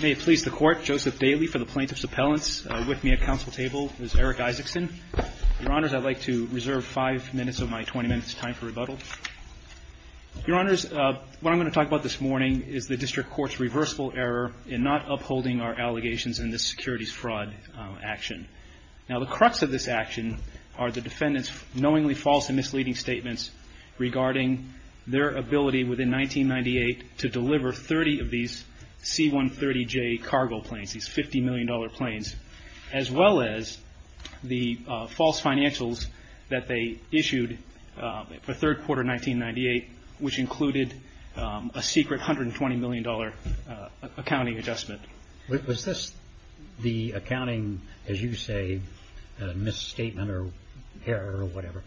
May it please the Court, Joseph Daly for the Plaintiff's Appellants. With me at council table is Eric Isaacson. Your Honors, I'd like to reserve five minutes of my 20 minutes time for rebuttal. Your Honors, what I'm going to talk about this morning is the District Court's reversible error in not upholding our allegations in this securities fraud action. Now the crux of this action are the defendants knowingly false and misleading statements regarding their C-130J cargo planes, these 50 million dollar planes, as well as the false financials that they issued for third quarter 1998 which included a secret hundred and twenty million dollar accounting adjustment. Was this the accounting, as you say, misstatement or error or whatever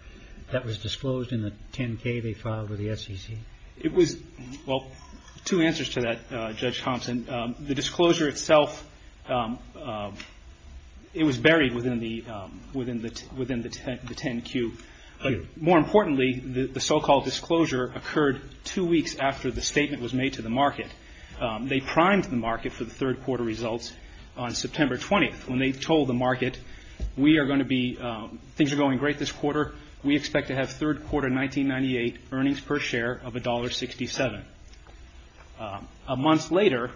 that was disclosed in the 10-K they filed with the SEC? It was, well, two answers to that, Judge Thompson. The disclosure itself, it was buried within the within the within the 10-Q. More importantly, the so-called disclosure occurred two weeks after the statement was made to the market. They primed the market for the third quarter results on September 20th when they told the market we are going to be, things are going great this quarter. We expect to have third quarter 1998 earnings per share of $1.67. A month later,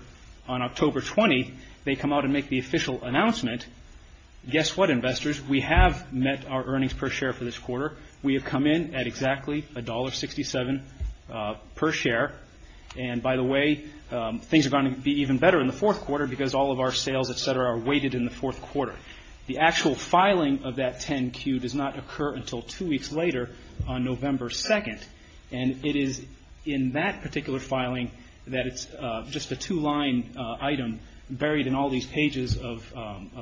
on October 20, they come out and make the official announcement, guess what investors, we have met our earnings per share for this quarter. We have come in at exactly $1.67 per share and by the way, things are going to be even better in the fourth quarter because all of our filing of that 10-Q does not occur until two weeks later on November 2nd and it is in that particular filing that it's just a two-line item buried in all these pages of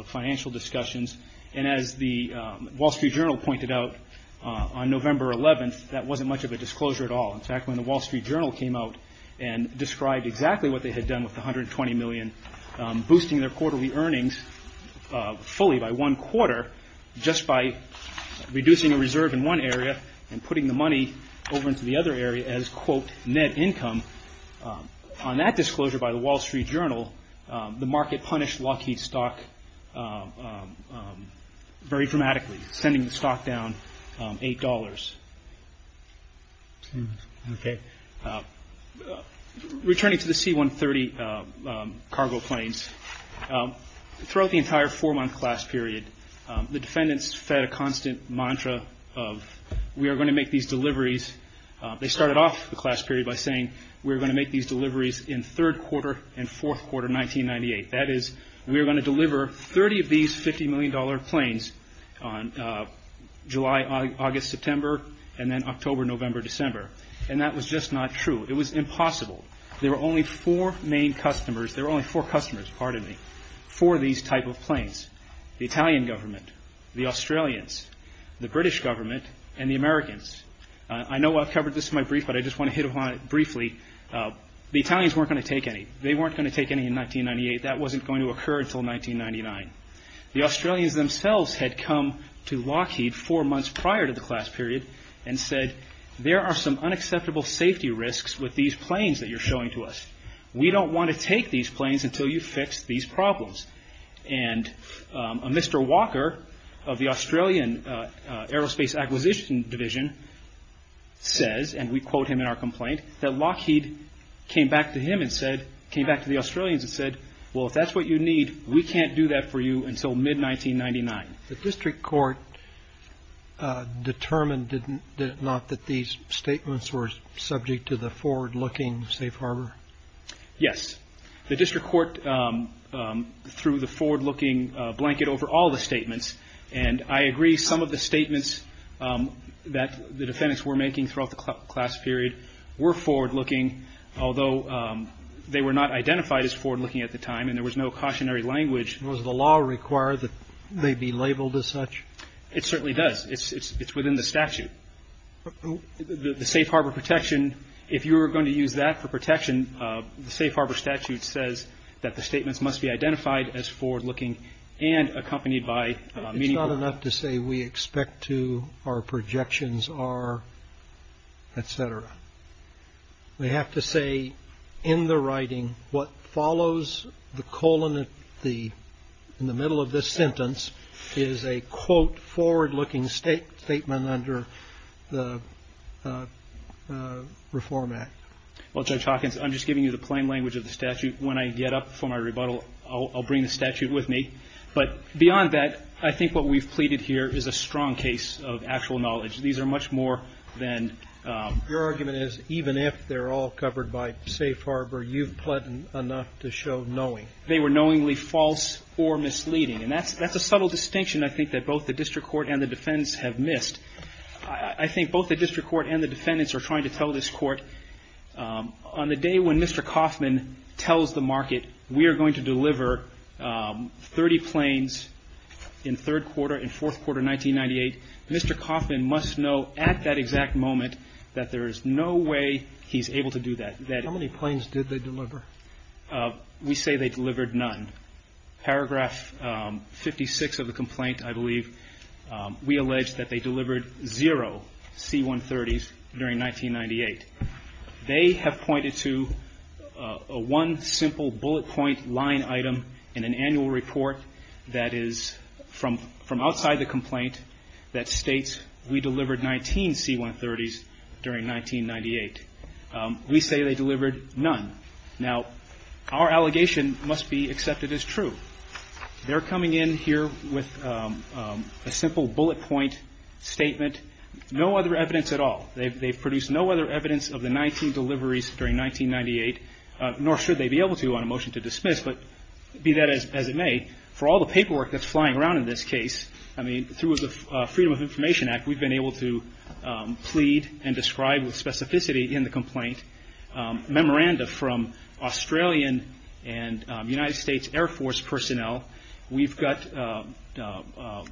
financial discussions and as the Wall Street Journal pointed out on November 11th, that wasn't much of a disclosure at all. In fact, when the Wall Street Journal came out and described exactly what they had done with the share, just by reducing a reserve in one area and putting the money over into the other area as quote, net income, on that disclosure by the Wall Street Journal, the market punished Lockheed's stock very dramatically, sending the stock down $8. Returning to the C-130 cargo planes, throughout the entire four-month class period, the defendants fed a constant mantra of, we are going to make these deliveries. They started off the class period by saying, we're going to make these deliveries in third quarter and fourth quarter 1998. That is, we're going to deliver 30 of these $50 million planes on July, August, September and then October, November, December and that was just not true. It was impossible. There were only four main customers, there were only four customers, pardon me, for these type of planes. The Italian government, the Australians, the British government and the Americans. I know I've covered this in my brief, but I just want to hit upon it briefly. The Italians weren't going to take any. They weren't going to take any in 1998. That wasn't going to occur until 1999. The Australians themselves had come to Lockheed four months prior to the class period and said, there are some unacceptable safety risks with these planes that you're showing to us. We don't want to take these planes until you fix these problems. And a Mr. Walker of the Australian Aerospace Acquisition Division says, and we quote him in our complaint, that Lockheed came back to him and said, came back to the Australians and said, well if that's what you need, we can't do that for you until mid-1999. The district court determined, did it not, that these statements were subject to the forward-looking safe harbor? Yes. The district court threw the forward-looking blanket over all the statements. And I agree, some of the statements that the defendants were making throughout the class period were forward-looking, although they were not identified as forward-looking at the time and there was no cautionary language. Was the law required that they be labeled as such? It certainly does. It's within the statute. The safe harbor protection, if you were going to use that for protection, the safe harbor statute says that the statements must be identified as forward-looking and accompanied by meaning. It's not enough to say we expect to, our projections are, etc. We have to say in the writing what follows the colon in the middle of the sentence is a, quote, forward-looking statement under the Reform Act. Well, Judge Hawkins, I'm just giving you the plain language of the statute. When I get up for my rebuttal, I'll bring the statute with me. But beyond that, I think what we've pleaded here is a strong case of actual knowledge. These are much more than Your argument is, even if they're all covered by safe harbor, you've done enough to show knowing. They were knowingly false or misleading. And that's a subtle distinction, I think, that both the district court and the defendants have missed. I think both the district court and the defendants are trying to tell this court, on the day when Mr. Coffman tells the market we are going to deliver 30 planes in third quarter, in fourth quarter 1998, Mr. Coffman must know at that exact moment that there is no way he's able to do that. How many planes did they deliver? We say they delivered none. Paragraph 56 of the complaint, I believe, we allege that they delivered zero C-130s during 1998. They have pointed to one simple bullet point line item in an annual report that is from outside the complaint that states we delivered 19 C-130s during 1998. We say they delivered none. Now, our allegation must be accepted as true. They're coming in here with a simple bullet point statement, no other evidence at all. They've produced no other evidence of the 19 deliveries during 1998, nor should they be able to on a motion to dismiss, but be that as it may, for all the paperwork that's flying around in this case, I mean, through the Freedom of Information Act, we've been able to plead and describe with specificity in the complaint, memoranda from Australian and United States Air Force personnel. We've got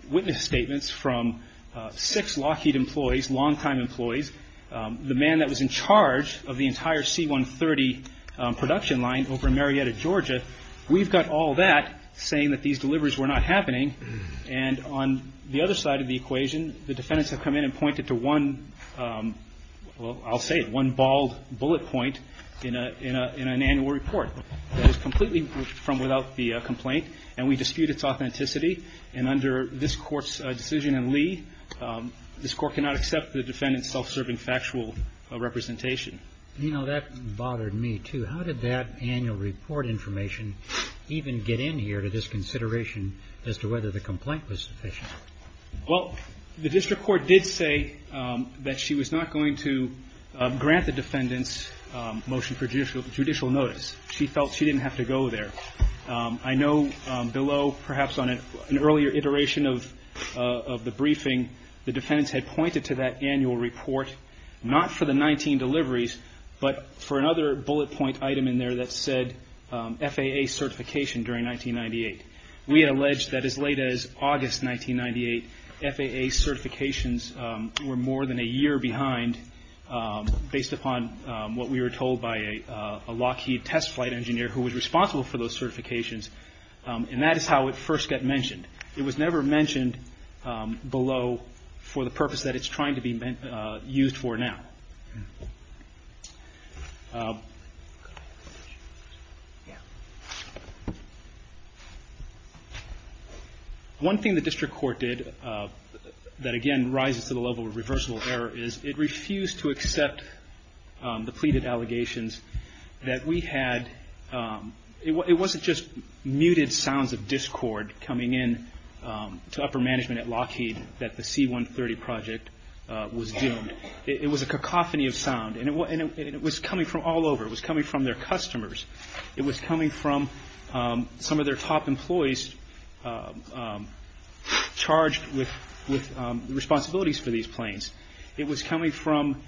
witness statements from six Lockheed employees, longtime employees. The man that was in charge of the entire C-130 production line over in Marietta, Georgia, we've got all that saying that these deliveries were not happening. And on the other side of the equation, the defendants have come in and pointed to one, well, I'll say it, one bald bullet point in an annual report that is completely from without the complaint, and we dispute its authenticity. And under this Court's decision in Lee, this Court cannot accept the defendant's self-serving factual representation. You know, that bothered me, too. How did that annual report information even get in here to this consideration as to whether the complaint was sufficient? Well, the district court did say that she was not going to grant the defendant's motion for judicial notice. She felt she didn't have to go there. I know below, perhaps on an earlier iteration of the briefing, the defendants had pointed to that annual report, not for the 19 deliveries, but for another bullet point item in there that said FAA certification during 1998. We had alleged that as late as August 1998, FAA certifications were more than a year behind based upon what we were told by a Lockheed test flight engineer who was responsible for those certifications. And that is how it first got mentioned. It was never mentioned below for the purpose that it's trying to be used for now. One thing the district court did that, again, rises to the level of reversible error is it refused to accept the pleaded allegations that we had. It wasn't just muted sounds of discord coming in to upper management at Lockheed that the C-130 project was doomed. It was a cacophony of sound. And it was coming from all over. It was coming from their customers. It was coming from some of their top employees charged with responsibilities for these planes. It was coming from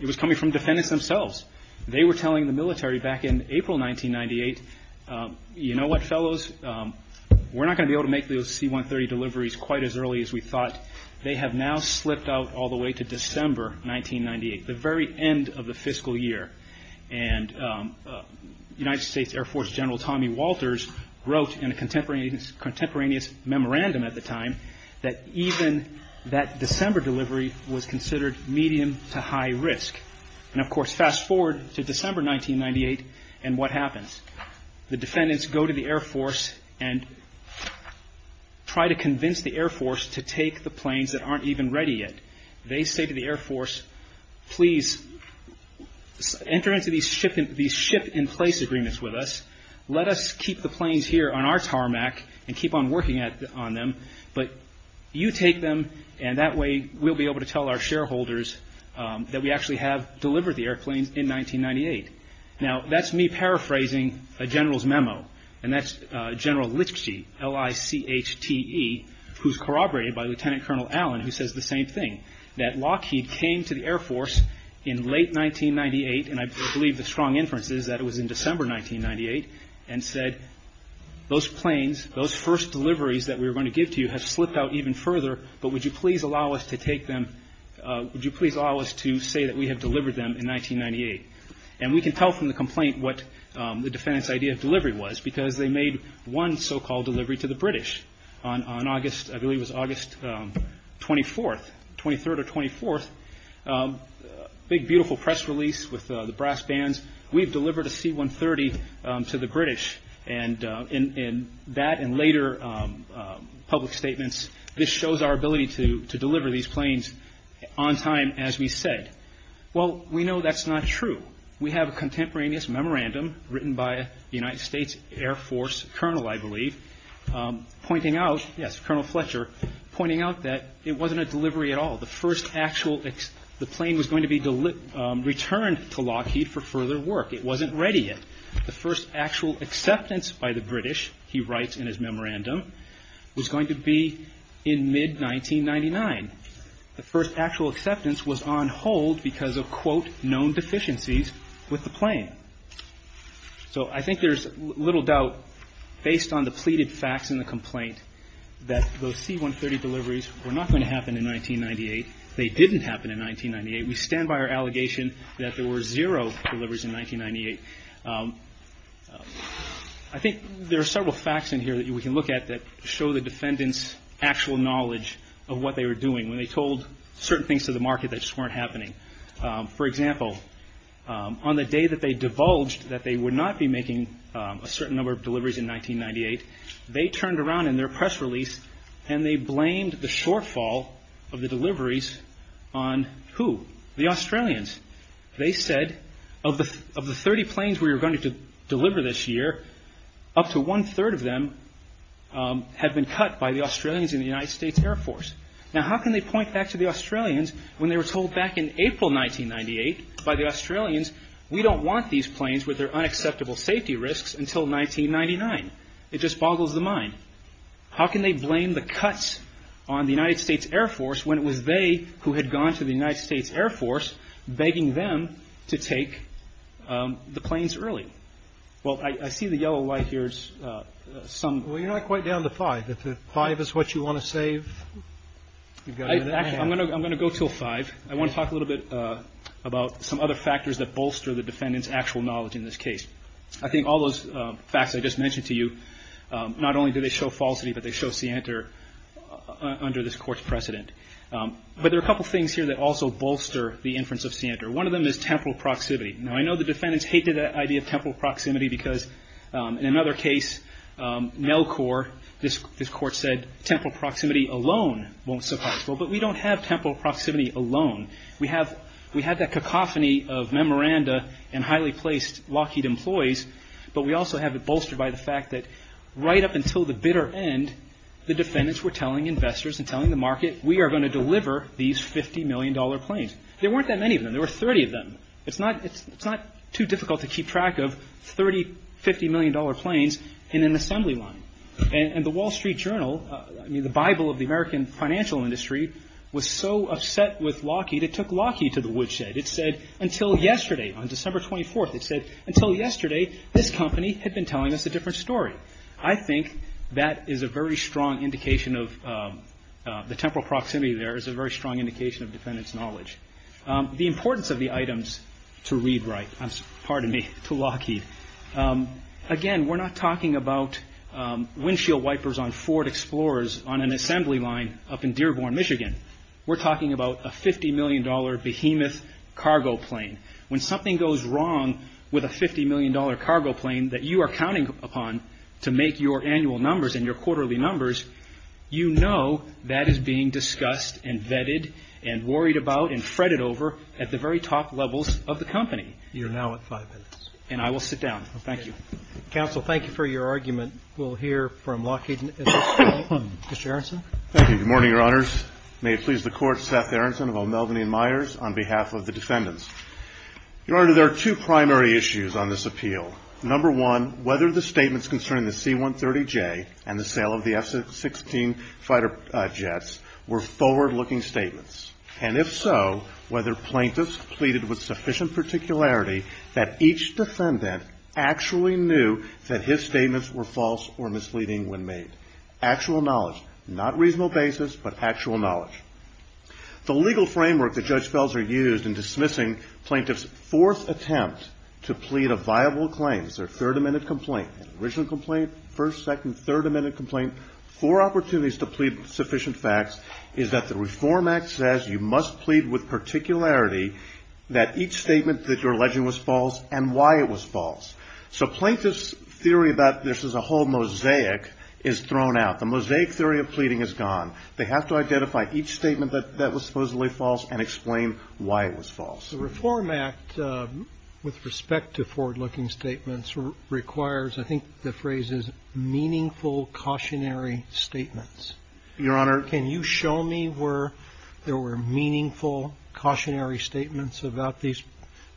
defendants themselves. They were telling the military back in April 1998, you know what, fellows? We're not going to be able to make those C-130 deliveries quite as early as we thought. They have now slipped out all the way to December 1998, the very end of the fiscal year. And United States Air Force General Tommy Walters wrote in a contemporaneous memorandum at the time that even that December delivery was considered medium to high risk. And of course, fast forward to December 1998 and what happens. The defendants go to the Air Force and try to convince the Air Force to take the planes that aren't even ready yet. They say to the Air Force, please enter into these ship in place agreements with us. Let us keep the planes here on our tarmac and keep on working on them. But you take them and that way we'll be able to tell our shareholders that we actually have delivered the airplanes in 1998. Now, that's me paraphrasing a general's memo. And that's General Lichte, L-I-C-H-T-E, who's corroborated by Lieutenant Colonel Allen, who says the same thing. That Lockheed came to the Air Force in late 1998, and I believe the strong inference is that it was in December 1998, and said those planes, those first deliveries that we were going to give to you have slipped out even further, but would you please allow us to take them, would you please allow us to say that we have delivered them in 1998? And we can tell from the complaint what the defendants' idea of delivery was, because they made one so- called delivery to the British on August, I believe it was August 24th, 23rd or 24th, big beautiful press release with the brass bands. We've delivered a C-130 to the British, and in that and later public statements, this shows our ability to be said. Well, we know that's not true. We have a contemporaneous memorandum written by a United States Air Force colonel, I believe, pointing out, yes, Colonel Fletcher, pointing out that it wasn't a delivery at all. The plane was going to be returned to Lockheed for further work. It wasn't ready yet. The first actual acceptance by the British, he writes in his memorandum, was going to be in mid-1999. The first actual acceptance was on hold because of quote, known deficiencies with the plane. So I think there's little doubt based on the pleaded facts in the complaint that those C-130 deliveries were not going to happen in 1998. They didn't happen in 1998. We stand by our allegation that there were zero deliveries in 1998. I think there are several facts in here that we can look at that show the defendant's actual knowledge of what they were doing when they told certain things to the market that just weren't happening. For example, on the day that they divulged that they would not be making a certain number of deliveries in 1998, they turned around in their press release and they blamed the shortfall of the deliveries on who? The Australians. They said of the 30 planes we were going to deliver this year, up to one-third of them had been cut by the Australians in the United States Air Force. Now how can they point back to the Australians when they were told back in April 1998 by the Australians, we don't want these planes with their unacceptable safety risks until 1999? It just boggles the mind. How can they blame the cuts on the United States Air Force when it was they who had gone to the United States Air Force begging them to take the planes early? Well, I see the yellow light here is some... Well, you're not quite down to five. If the five is what you want to save, you've got a minute and a half. I'm going to go until five. I want to talk a little bit about some other factors that bolster the defendant's actual knowledge in this case. I think all those facts I just mentioned to you, not only do they show falsity, but they show scienter under this court's precedent. But there are a couple of things here that also bolster the inference of scienter. One of them is temporal proximity. Now I know the defendants hated that idea of temporal proximity because in another case, NELCOR, this court said temporal proximity alone won't suffice. Well, but we don't have temporal proximity alone. We have that cacophony of memoranda and highly placed Lockheed employees, but we also have it bolstered by the fact that right up until the bitter end, the defendants were telling investors and telling the market, we are going to deliver these 50 million dollar planes. There weren't that many of them. There were 30 of them. It's not too difficult to keep track of 30, 50 million dollar planes in an assembly line. And the Wall Street Journal, I mean the Bible of the American financial industry, was so upset with Lockheed, it took Lockheed to the woodshed. It said until yesterday, on December 24th, it said until yesterday, this company had been telling us a different story. I think that is a very strong indication of the temporal proximity there is a very strong indication of defendants' knowledge. The importance of the items to ReadWrite, pardon me, to Lockheed, again we're not talking about windshield wipers on Ford Explorers on an assembly line up in Dearborn, Michigan. We're talking about a 50 million dollar behemoth cargo plane. When something goes wrong with a 50 million dollar cargo plane that you are counting upon to make your annual numbers and worried about and fretted over at the very top levels of the company. You're now at five minutes. And I will sit down. Thank you. Counsel, thank you for your argument. We'll hear from Lockheed. Mr. Aronson. Thank you. Good morning, Your Honors. May it please the Court, Seth Aronson of O'Melveny & Myers on behalf of the defendants. Your Honor, there are two primary issues on this appeal. Number one, whether the statements concerning the C-130J and the sale of the F-16 fighter jets were forward-looking statements. And if so, whether plaintiffs pleaded with sufficient particularity that each defendant actually knew that his statements were false or misleading when made. Actual knowledge. Not reasonable basis, but actual knowledge. The legal framework that Judge Felser used in dismissing plaintiffs' fourth attempt to plead a viable claim, their third amended complaint, original complaint, first, second, third amended complaint, four amendments. The Reform Act says you must plead with particularity that each statement that you're alleging was false and why it was false. So plaintiffs' theory about this as a whole mosaic is thrown out. The mosaic theory of pleading is gone. They have to identify each statement that was supposedly false and explain why it was false. The Reform Act, with respect to forward-looking statements, requires, I think the phrase is, meaningful, cautionary statements. Your Honor. Can you show me where there were meaningful, cautionary statements about these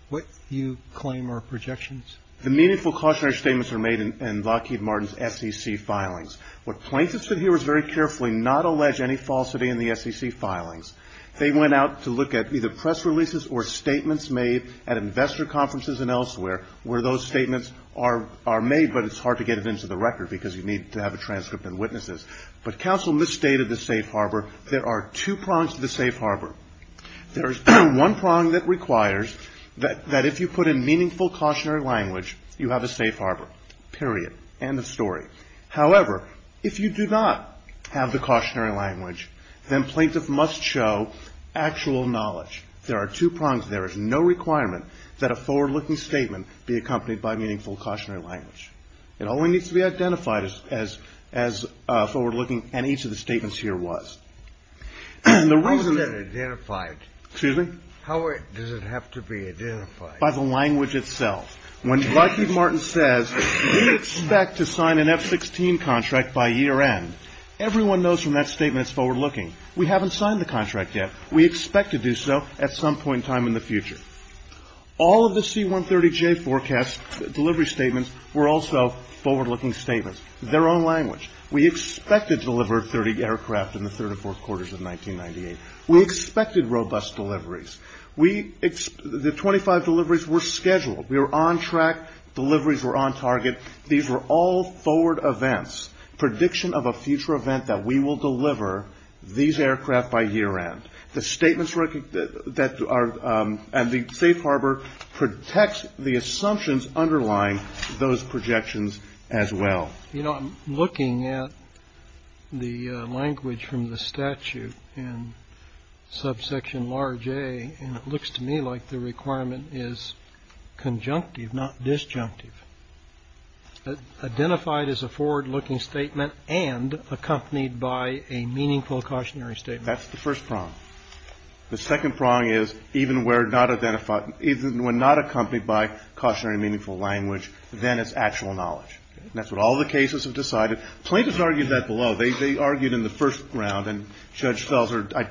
what you claim are projections? The meaningful, cautionary statements were made in Lockheed Martin's SEC filings. What plaintiffs did here was very carefully not allege any falsity in the SEC filings. They went out to look at either press releases or statements made at investor conferences and elsewhere where those statements are made, but it's hard to get it into the record because you need to have a transcript and witnesses. But counsel from the state of the safe harbor, there are two prongs to the safe harbor. There is one prong that requires that if you put in meaningful, cautionary language, you have a safe harbor. Period. End of story. However, if you do not have the cautionary language, then plaintiff must show actual knowledge. There are two prongs. There is no requirement that a forward-looking statement be accompanied by meaningful, cautionary language. It only needs to be statements here was. How is that identified? Excuse me? How does it have to be identified? By the language itself. When Lockheed Martin says we expect to sign an F-16 contract by year end, everyone knows from that statement it's forward-looking. We haven't signed the contract yet. We expect to do so at some point in time in the future. All of the C-130J forecasts, delivery statements, were also forward-looking statements. Their own language. We expected to deliver 30 aircraft in the third and fourth quarters of 1998. We expected robust deliveries. The 25 deliveries were scheduled. We were on track. Deliveries were on target. These were all forward events. Prediction of a future event that we will deliver these aircraft by year end. The statements and the safe harbor protects the assumptions underlying those projections as well. You know, I'm looking at the language from the statute in subsection large A, and it looks to me like the requirement is conjunctive, not disjunctive. Identified as a forward-looking statement and accompanied by a meaningful, cautionary statement. That's the first prong. The second prong is even when not accompanied by cautionary or meaningful language, then it's actual knowledge. That's what all the cases have decided. Plaintiffs argued that below. They argued in the first round, and Judge Felser, I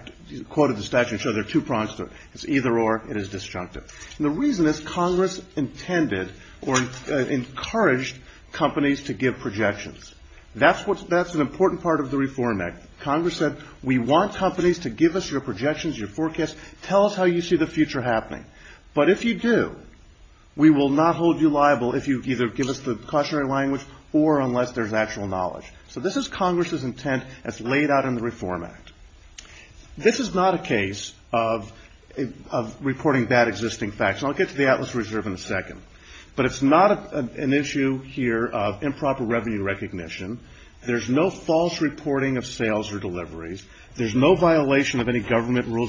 quoted the statute and showed there are two prongs to it. It's either or. It is disjunctive. The reason is Congress intended or encouraged companies to give projections. That's an important part of the Reform Act. Congress said, we want companies to give us your projections, your forecast. Tell us how you see the future happening. But if you do, we will not hold you liable if you either give us the cautionary language or unless there's actual knowledge. So this is Congress's intent as laid out in the Reform Act. This is not a case of reporting bad existing facts. And I'll get to the Atlas Reserve in a second. But it's not an issue here of improper revenue recognition. There's no false reporting of sales or deliveries. There's no violation of any financial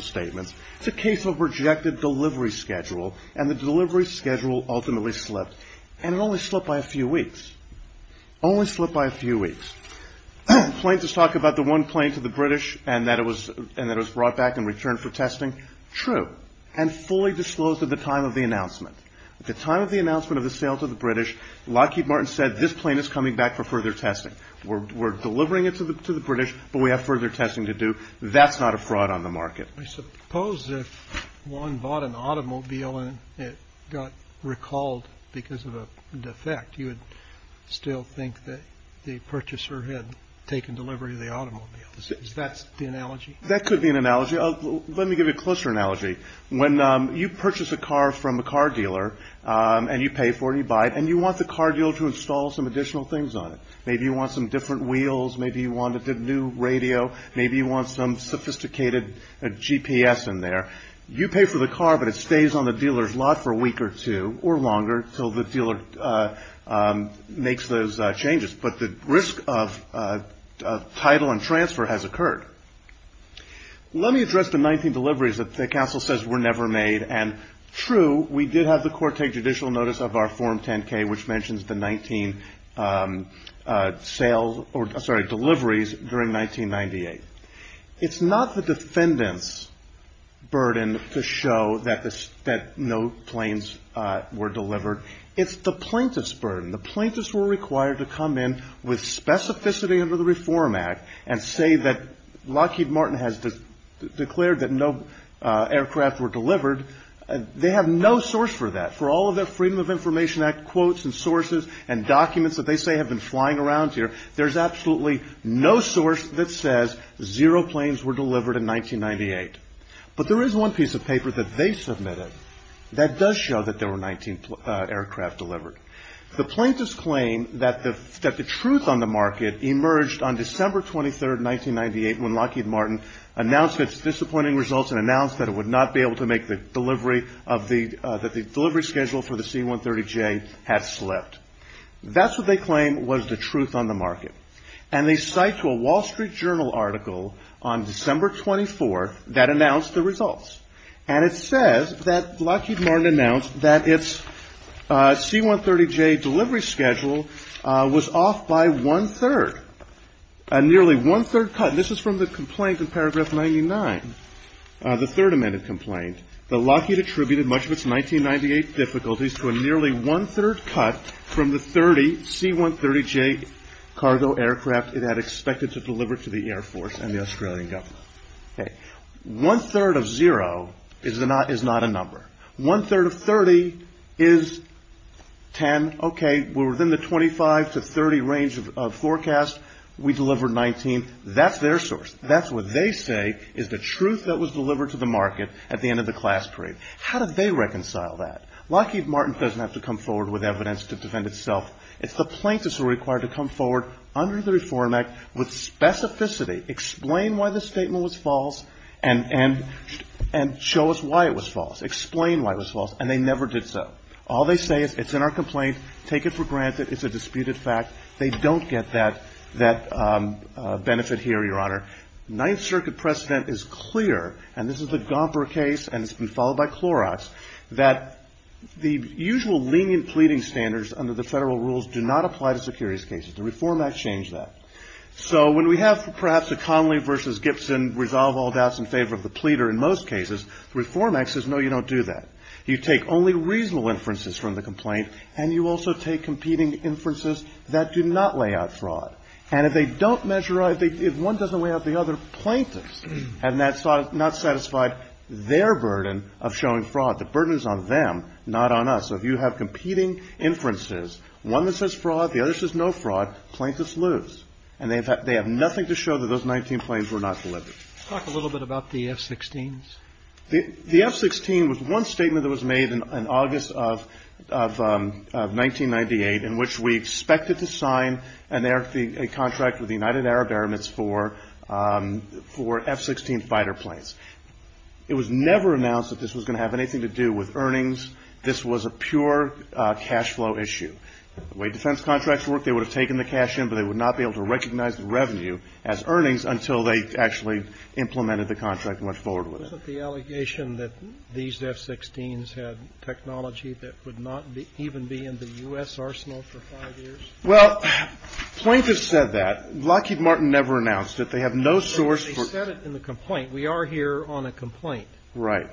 statements. It's a case of rejected delivery schedule. And the delivery schedule ultimately slipped. And it only slipped by a few weeks. Only slipped by a few weeks. Plaintiffs talk about the one plane to the British and that it was brought back and returned for testing. True. And fully disclosed at the time of the announcement. At the time of the announcement of the sale to the British, Lockheed Martin said, this plane is coming back for further testing. We're delivering it to the British, but we have further testing to do. That's not a I suppose if one bought an automobile and it got recalled because of a defect, you would still think that the purchaser had taken delivery of the automobile. Is that the analogy? That could be an analogy. Let me give you a closer analogy. When you purchase a car from a car dealer and you pay for it, you buy it, and you want the car dealer to install some additional things on it. Maybe you want some different GPS in there. You pay for the car, but it stays on the dealer's lot for a week or two or longer until the dealer makes those changes. But the risk of title and transfer has occurred. Let me address the 19 deliveries that the counsel says were never made. And true, we did have the court take judicial notice of our Form 10-K, which burden to show that no planes were delivered. It's the plaintiff's burden. The plaintiffs were required to come in with specificity under the Reform Act and say that Lockheed Martin has declared that no aircraft were delivered. They have no source for that. For all of their Freedom of Information Act quotes and sources and documents that they say have been flying around here, there's absolutely no source that says zero planes were delivered in 1998. But there is one piece of paper that they submitted that does show that there were 19 aircraft delivered. The plaintiffs claim that the truth on the market emerged on December 23, 1998, when Lockheed Martin announced its disappointing results and announced that it would not be able to make the delivery of the – that the delivery schedule for the C-130J had slipped. That's what they claim was the truth on the market. And they cite to a Wall Street Journal article on December 24 that announced the results. And it says that Lockheed Martin announced that its C-130J delivery schedule was off by one-third, a nearly one-third cut. And this is from the complaint in Paragraph 99, the Third Amendment complaint, that Lockheed attributed much of its 1998 difficulties to a nearly one-third cut from the 30 C-130J cargo aircraft it had expected to deliver to the Air Force and the Australian government. Okay. One-third of zero is not a number. One-third of 30 is 10. Okay. We're within the 25 to 30 range of forecast. We delivered 19. That's their source. That's what they say is the truth that was delivered to the market at the end of the class parade. How did they reconcile that? Lockheed Martin doesn't have to come forward with evidence to defend itself. It's the plaintiffs who are required to come forward under the Reform Act with specificity, explain why the statement was false, and show us why it was false, explain why it was false. And they never did so. All they say is, it's in our complaint. Take it for granted. It's a disputed fact. They don't get that benefit here, Your Honor. Ninth Circuit precedent is clear, and this is the Gomper case, and it's been followed by Clorox, that the usual lenient pleading standards under the federal rules do not apply to securities cases. The Reform Act changed that. So when we have, perhaps, a Connolly versus Gibson resolve all doubts in favor of the pleader in most cases, the Reform Act says, no, you don't do that. You take only reasonable inferences from the complaint, and you also take competing inferences that do not lay out fraud. And if they don't measure out, if one doesn't weigh out the other, plaintiffs have not satisfied their burden of showing fraud. The burden is on them, not on us. So if you have competing inferences, one that says fraud, the other says no fraud, plaintiffs lose. And they have nothing to show that those 19 claims were not delivered. Let's talk a little bit about the F-16s. The F-16 was one statement that was made in August of 1998 in which we expected to sign a contract with the United Arab Emirates for F-16 fighter planes. It was never announced that this was going to have anything to do with earnings. This was a pure cash flow issue. The way defense contracts work, they would have taken the cash in, but they would not be able to recognize the revenue as earnings until they actually implemented the contract and went forward with it. Was it the allegation that these F-16s had technology that would not even be in the U.S. arsenal for five years? Well, plaintiffs said that. Lockheed Martin never announced it. They have no source for the complaint. We are here on a complaint. Right.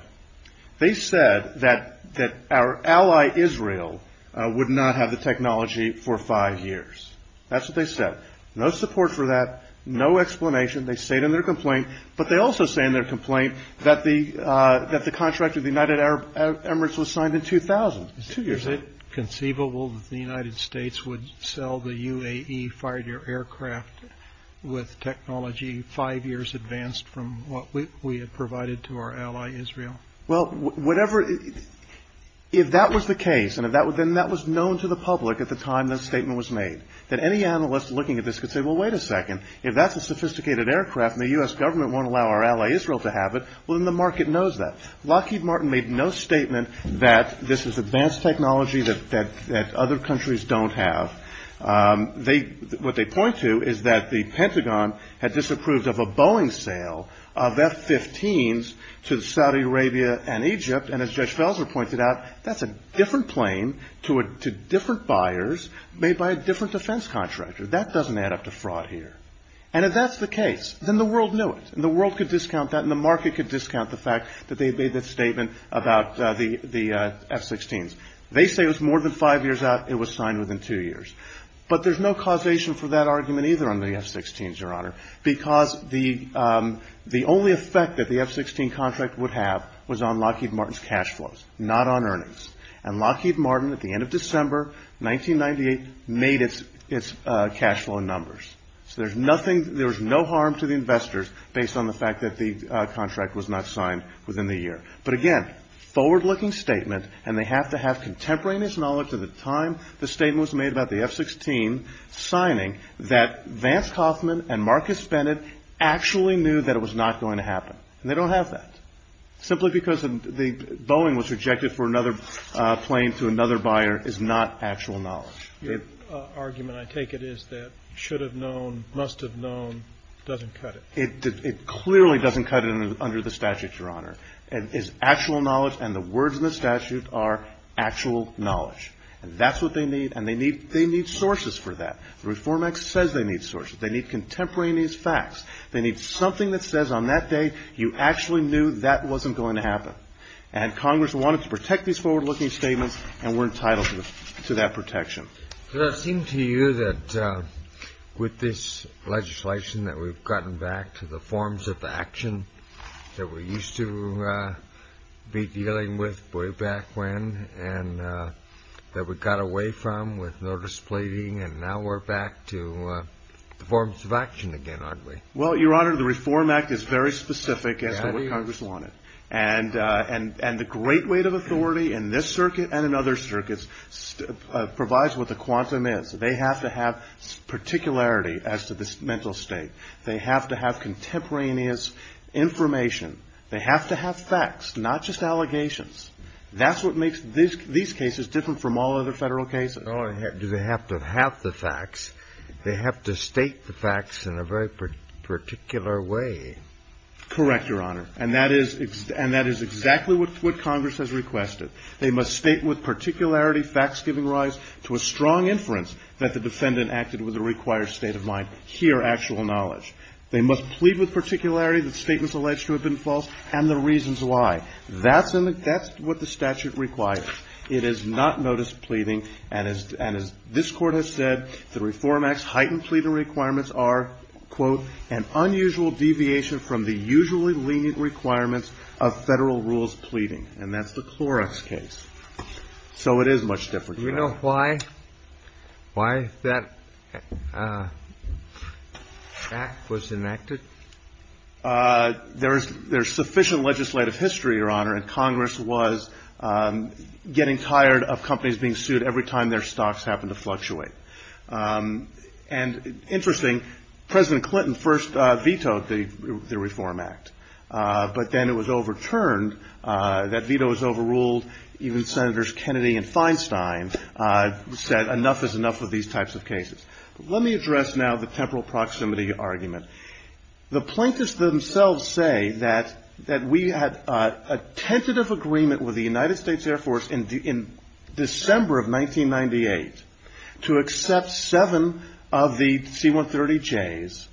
They said that that our ally Israel would not have the technology for five years. That's what they said. No support for that. No explanation. They say it in their complaint, but they also say in their complaint that the that the contract with the United Arab Emirates was signed in 2000. Is it conceivable that the United States would sell the UAE fighter aircraft with technology five years advanced from what we had provided to our ally Israel? Well, whatever. If that was the case and if that was then that was known to the public at the time this statement was made, that any analyst looking at this could say, well, wait a second, if that's a sophisticated aircraft and the U.S. government won't allow our ally Israel to have it, well, then the market knows that. Lockheed Martin made no statement that this is advanced technology that that that other countries don't have. They what they point to is that the Pentagon had disapproved of a Boeing sale of F-15s to Saudi Arabia and Egypt. And as Judge Felser pointed out, that's a different plane to it, to different buyers made by a different defense contractor. That doesn't add up to fraud here. And if that's the case, then the world knew it and the world could discount that in a market could discount the fact that they made that statement about the the F-16s. They say it was more than five years out. It was signed within two years. But there's no causation for that argument either on the F-16s, Your Honor, because the the only effect that the F-16 contract would have was on Lockheed Martin's cash flows, not on earnings. And Lockheed Martin, at the end of December 1998, made its cash flow in numbers. So there's nothing there is no harm to the investors based on the fact that the contract was not signed within the year. But again, forward looking statement. And they have to have contemporaneous knowledge of the time the statement was made about the F-16 signing that Vance Kaufman and Marcus Bennett actually knew that it was not going to happen. And they don't have that simply because the Boeing was rejected for another plane to another buyer is not actual knowledge. Your argument, I take it, is that should have known, must have known, doesn't cut it. It clearly doesn't cut it under the statute, Your Honor. And is actual knowledge. And the words in the statute are actual knowledge. And that's what they need. And they need they need sources for that. The Reform Act says they need sources. They need contemporaneous facts. They need something that says on that day you actually knew that wasn't going to happen. And Congress wanted to protect these forward looking statements. And we're entitled to that protection. Does it seem to you that with this legislation that we've gotten back to the forms of action that we used to be dealing with way back when and that we got away from with notice pleading and now we're back to the forms of action again, aren't we? Well, Your Honor, the Reform Act is very specific as to what Congress wanted. And and and the great weight of authority in this circuit and in other circuits provides what the quantum is. They have to have particularity as to this mental state. They have to have contemporaneous information. They have to have facts, not just allegations. That's what makes this these cases different from all other federal cases. Do they have to have the facts? They have to state the facts in a very particular way. Correct, Your Honor. And that is and that is exactly what Congress has requested. They must state with particularity facts giving rise to a strong inference that the defendant acted with a required state of mind. Here, actual knowledge. They must plead with particularity that statements alleged to have been false and the reasons why. That's what the statute requires. It is not notice pleading. And as this court has said, the Reform Act's heightened pleading requirements are, quote, an unusual deviation from the usually lenient requirements of federal rules pleading. And that's the Clorox case. So it is much different. You know why? Why that act was enacted? There is there's sufficient legislative history, Your Honor. And Congress was getting tired of companies being sued every time their stocks happened to fluctuate. And interesting, President Clinton first vetoed the Reform Act, but then it was overturned. That veto was overruled. Even Senators Kennedy and Feinstein said enough is enough with these types of cases. Let me address now the temporal proximity argument. The plaintiffs themselves say that we had a tentative agreement with the United States Air Force in December of 1998 to accept seven of the C-130Js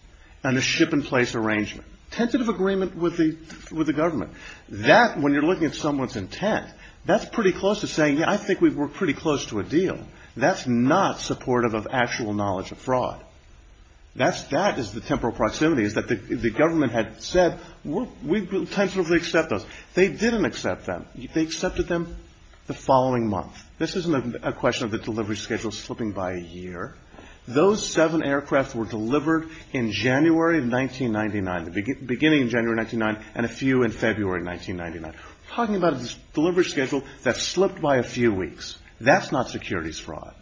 and a ship in place arrangement. Tentative agreement with the government. That, when you're looking at someone's intent, that's pretty close to saying, yeah, I think we were pretty close to a deal. That's not supportive of actual knowledge of fraud. That is the temporal proximity is that the government had said, we'll tentatively accept those. They didn't accept them. They accepted them the following month. This isn't a question of the delivery schedule slipping by a year. Those seven aircraft were delivered in January of 1999, the beginning of January 1999, and a few in February 1999. Talking about a delivery schedule that slipped by a few weeks, that's not securities fraud.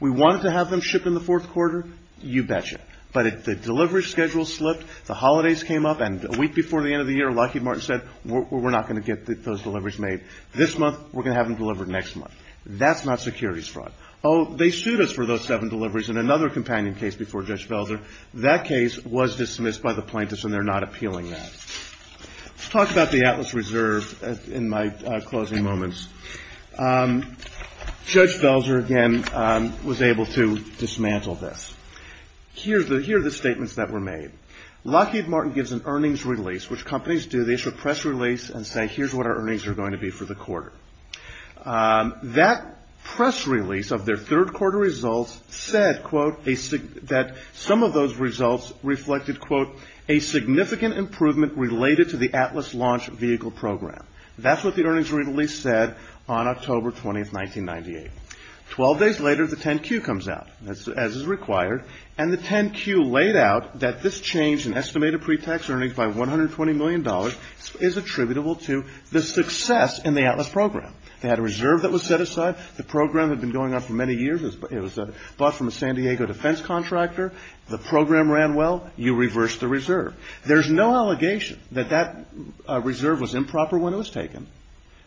We wanted to have them shipped in the fourth quarter, you betcha, but the delivery schedule slipped, the holidays came up, and a week before the end of the year, Lockheed Martin said, we're not going to get those deliveries made this month. We're going to have them delivered next month. That's not securities fraud. Oh, they sued us for those seven deliveries in another companion case before Judge Velzer. That case was dismissed by the plaintiffs, and they're not appealing that. Let's talk about the Atlas Reserve in my closing moments. Judge Velzer, again, was able to dismantle this. Here are the statements that were made. Lockheed Martin gives an earnings release, which companies do. They issue a press release and say, here's what our earnings are going to be for the quarter. That press release of their third quarter results said, quote, that some of those results reflected, quote, a significant improvement related to the Atlas launch vehicle program. That's what the earnings release said on October 20th, 1998. Twelve days later, the 10-Q comes out, as is required, and the 10-Q laid out that this change in estimated pre-tax earnings by $120 million is attributable to the success in the Atlas program. They had a reserve that was set aside. The program had been going on for many years. It was bought from a San Diego defense contractor. The program ran well. You reversed the reserve. There's no allegation that that reserve was improper when it was taken,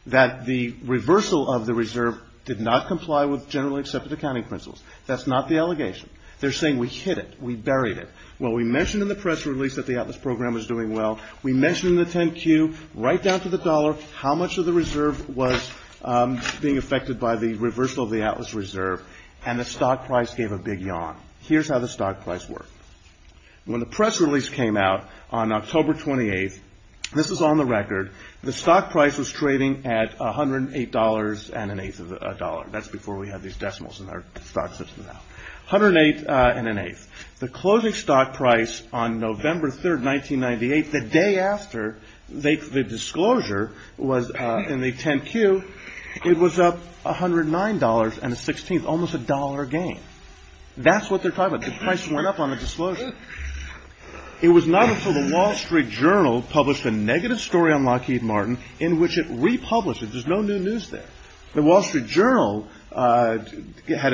that the reversal of the reserve did not comply with generally accepted accounting principles. That's not the allegation. They're saying, we hid it, we buried it. Well, we mentioned in the press release that the Atlas program was doing well. We mentioned in the 10-Q, right down to the dollar, how much of the reserve was being affected by the reversal of the Atlas Reserve, and the stock price gave a big yawn. Here's how the stock price worked. When the press release came out on October 28th, this was on the record, the stock price was trading at $108.08. That's before we had these decimals in our stock system now, $108.08. The closing stock price on November 3rd, 1998, the day after the disclosure was in the 10-Q, it was up $109.16, almost a dollar gain. That's what they're talking about. The price went up on the disclosure. It was not until the Wall Street Journal published a negative story on Lockheed Martin in which it republished it. There's no new news there. The Wall Street Journal had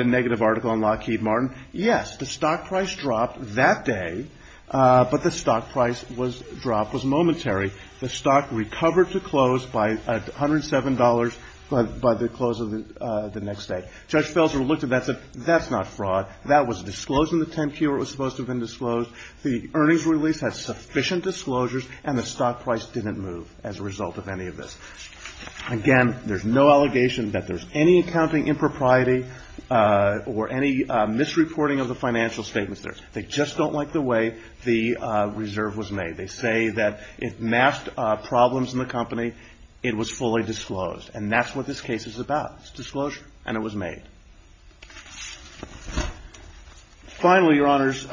a negative article on Lockheed Martin. Yes, the stock price dropped that day, but the stock price was dropped, was momentary. The stock recovered to close by $107 by the close of the next day. Judge Felser looked at that and said, that's not fraud. That was disclosed in the 10-Q where it was supposed to have been disclosed. The earnings release had sufficient disclosures, and the stock price didn't move as a result of any of this. Again, there's no allegation that there's any accounting impropriety or any misreporting of the financial statements there. They just don't like the way the reserve was made. They say that it masked problems in the company. It was fully disclosed, and that's what this case is about. It's a disclosure, and it was made. Finally, Your Honors,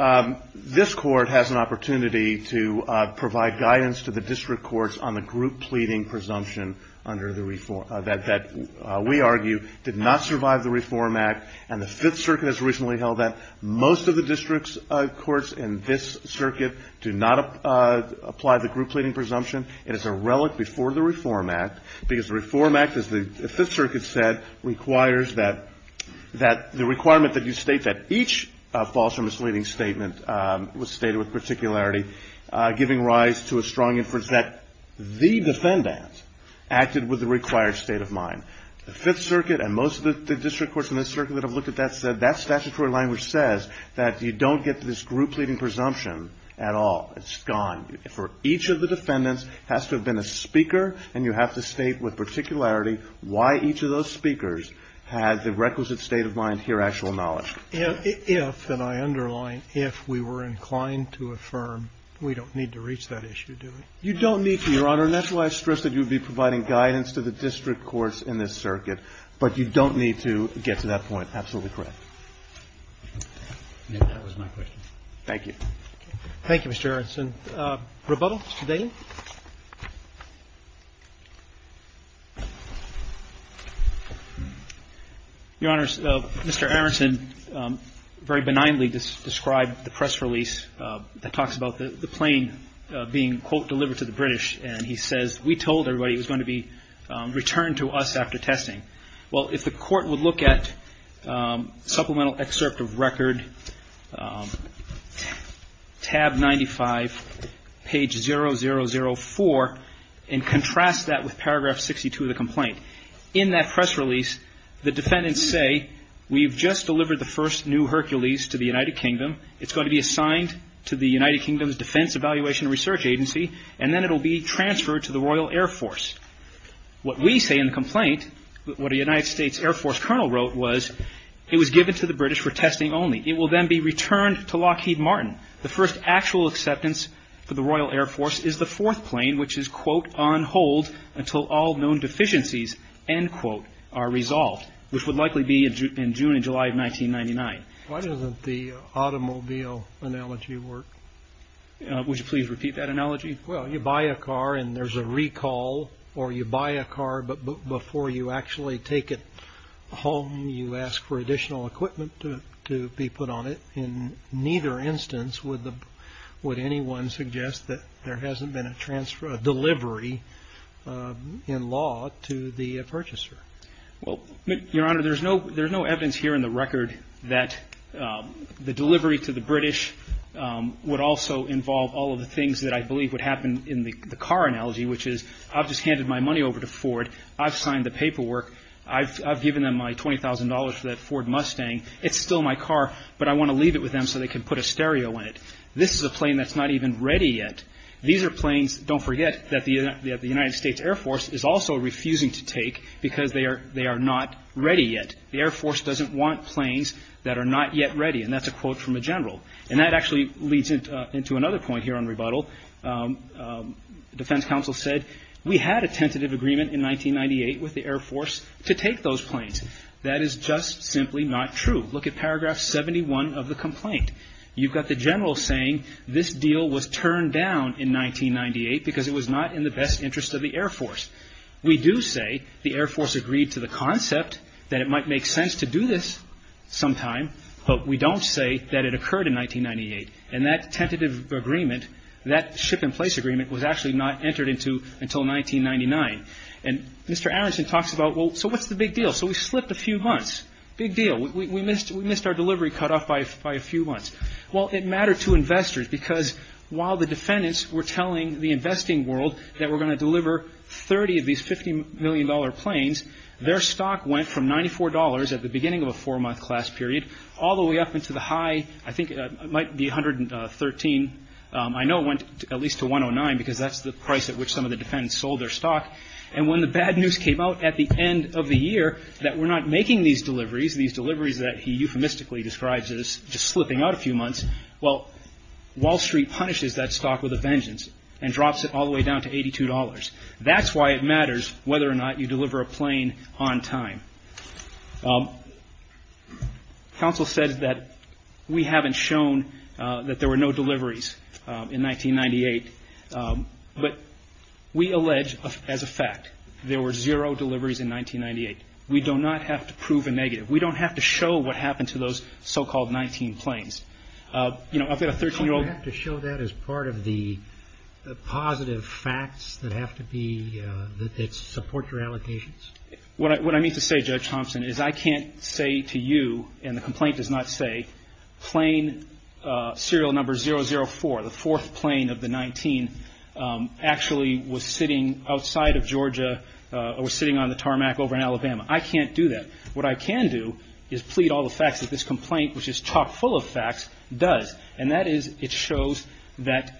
this Court has an opportunity to provide guidance to the district courts on the group pleading presumption under the reform, that we argue did not survive the Reform Act, and the Fifth Circuit has recently held that. Most of the district courts in this circuit do not apply the group pleading presumption. It is a relic before the Reform Act, because the Reform Act, as the Fifth Circuit said, requires that the requirement that you state that each false or misleading statement was stated with particularity, giving rise to a strong inference that the defendant acted with the required state of mind. The Fifth Circuit and most of the district courts in this circuit that have looked at that said that statutory language says that you don't get this group pleading presumption at all. It's gone. For each of the defendants, it has to have been a speaker, and you have to state with particularity why each of those speakers had the requisite state of mind to your actual knowledge. If, and I underline, if we were inclined to affirm, we don't need to reach that issue, do we? You don't need to, Your Honor. And that's why I stressed that you would be providing guidance to the district courts in this circuit, but you don't need to get to that point. Absolutely correct. If that was my question. Thank you. Thank you, Mr. Aronson. Rebuttal, Mr. Daly? Your Honor, Mr. Aronson very benignly described the press release that talks about the plane being, quote, delivered to the British. And he says, we told everybody it was going to be returned to us after testing. Well, if the court would look at supplemental excerpt of record, tab 95, page 0004, and contrast that with paragraph 62 of the complaint. In that press release, the defendants say, we've just delivered the first new Hercules to the United Kingdom, it's going to be assigned to the United Kingdom's Defense Evaluation Research Agency, and then it'll be transferred to the Royal Air Force. What we say in the complaint, what a United States Air Force colonel wrote was, it was given to the British for testing only. It will then be returned to Lockheed Martin. The first actual acceptance for the Royal Air Force is the fourth plane, which is, quote, on hold until all known deficiencies, end quote, are resolved, which would likely be in June and July of 1999. Why doesn't the automobile analogy work? Would you please repeat that analogy? Well, you buy a car and there's a recall, or you buy a car, but before you actually take it home, you ask for additional equipment to be put on it. In neither instance would anyone suggest that there hasn't been a transfer, a delivery in law to the purchaser. Well, Your Honor, there's no evidence here in the record that the delivery to the British would also involve all of the things that I believe would happen in the car analogy, which is, I've just handed my money over to Ford, I've signed the paperwork, I've given them my $20,000 for that Ford Mustang, it's still my car, but I want to leave it with them so they can put a stereo in it. This is a plane that's not even ready yet. These are planes, don't forget, that the United States Air Force is also refusing to take because they are not ready yet. The Air Force doesn't want planes that are not yet ready, and that's a quote from a general. And that actually leads into another point here on rebuttal. The Defense Council said, we had a tentative agreement in 1998 with the Air Force to take those planes. That is just simply not true. Look at paragraph 71 of the complaint. You've got the general saying this deal was turned down in 1998 because it was not in the best interest of the Air Force. We do say the Air Force agreed to the concept that it might make sense to do this sometime, but we don't say that it occurred in 1998. And that tentative agreement, that ship in place agreement, was actually not entered into until 1999. And Mr. Aronson talks about, well, so what's the big deal? So we slipped a few months. Big deal. We missed our delivery cutoff by a few months. Well, it mattered to investors because while the defendants were telling the investing world that we're going to deliver 30 of these $50 million planes, their stock went from $94 at the beginning of a four-month class period all the way up into the high, I think it might be 113. I know it went at least to 109 because that's the price at which some of the defendants sold their stock. And when the bad news came out at the end of the year that we're not making these deliveries, these deliveries that he euphemistically describes as just slipping out a few months, well, Wall Street punishes that stock with a vengeance and drops it all the way down to $82. That's why it matters whether or not you deliver a plane on time. Counsel said that we haven't shown that there were no deliveries in 1998, but we allege as a fact there were zero deliveries in 1998. We do not have to prove a negative. We don't have to show what happened to those so-called 19 planes. You know, I've got a 13-year-old... You don't have to show that as part of the positive facts that have to be, that support your allocations? What I mean to say, Judge Thompson, is I can't say to you, and the complaint does not say, plane serial number 004, the fourth plane of the 19, actually was sitting outside of Georgia or was sitting on the tarmac over in Alabama. I can't do that. What I can do is plead all the facts that this complaint, which is chock full of facts, does. And that is, it shows that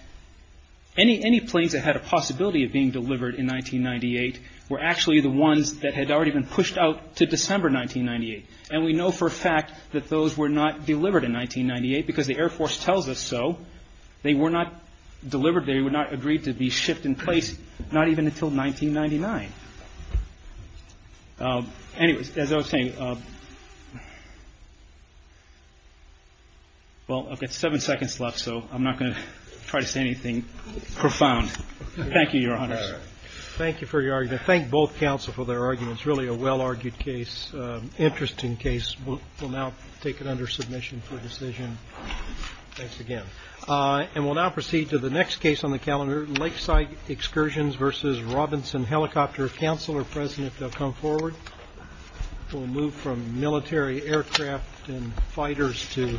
any planes that had a possibility of being delivered in 1998 were actually the ones that had already been pushed out to December 1998. And we know for a fact that those were not delivered in 1998, because the Air Force tells us so. They were not delivered. They would not agree to be shipped in place, not even until 1999. Anyways, as I was saying, well, I've got seven seconds left, so I'm not going to try to say anything profound. Thank you, Your Honors. Thank you for your argument. Thank both counsel for their arguments. Really a well-argued case. Interesting case. We'll now take it under submission for decision. Thanks again. And we'll now proceed to the next case on the calendar, Lakeside Excursions versus Robinson Helicopter. Counselor, President, if they'll come forward. We'll move from military aircraft and fighters to civilian.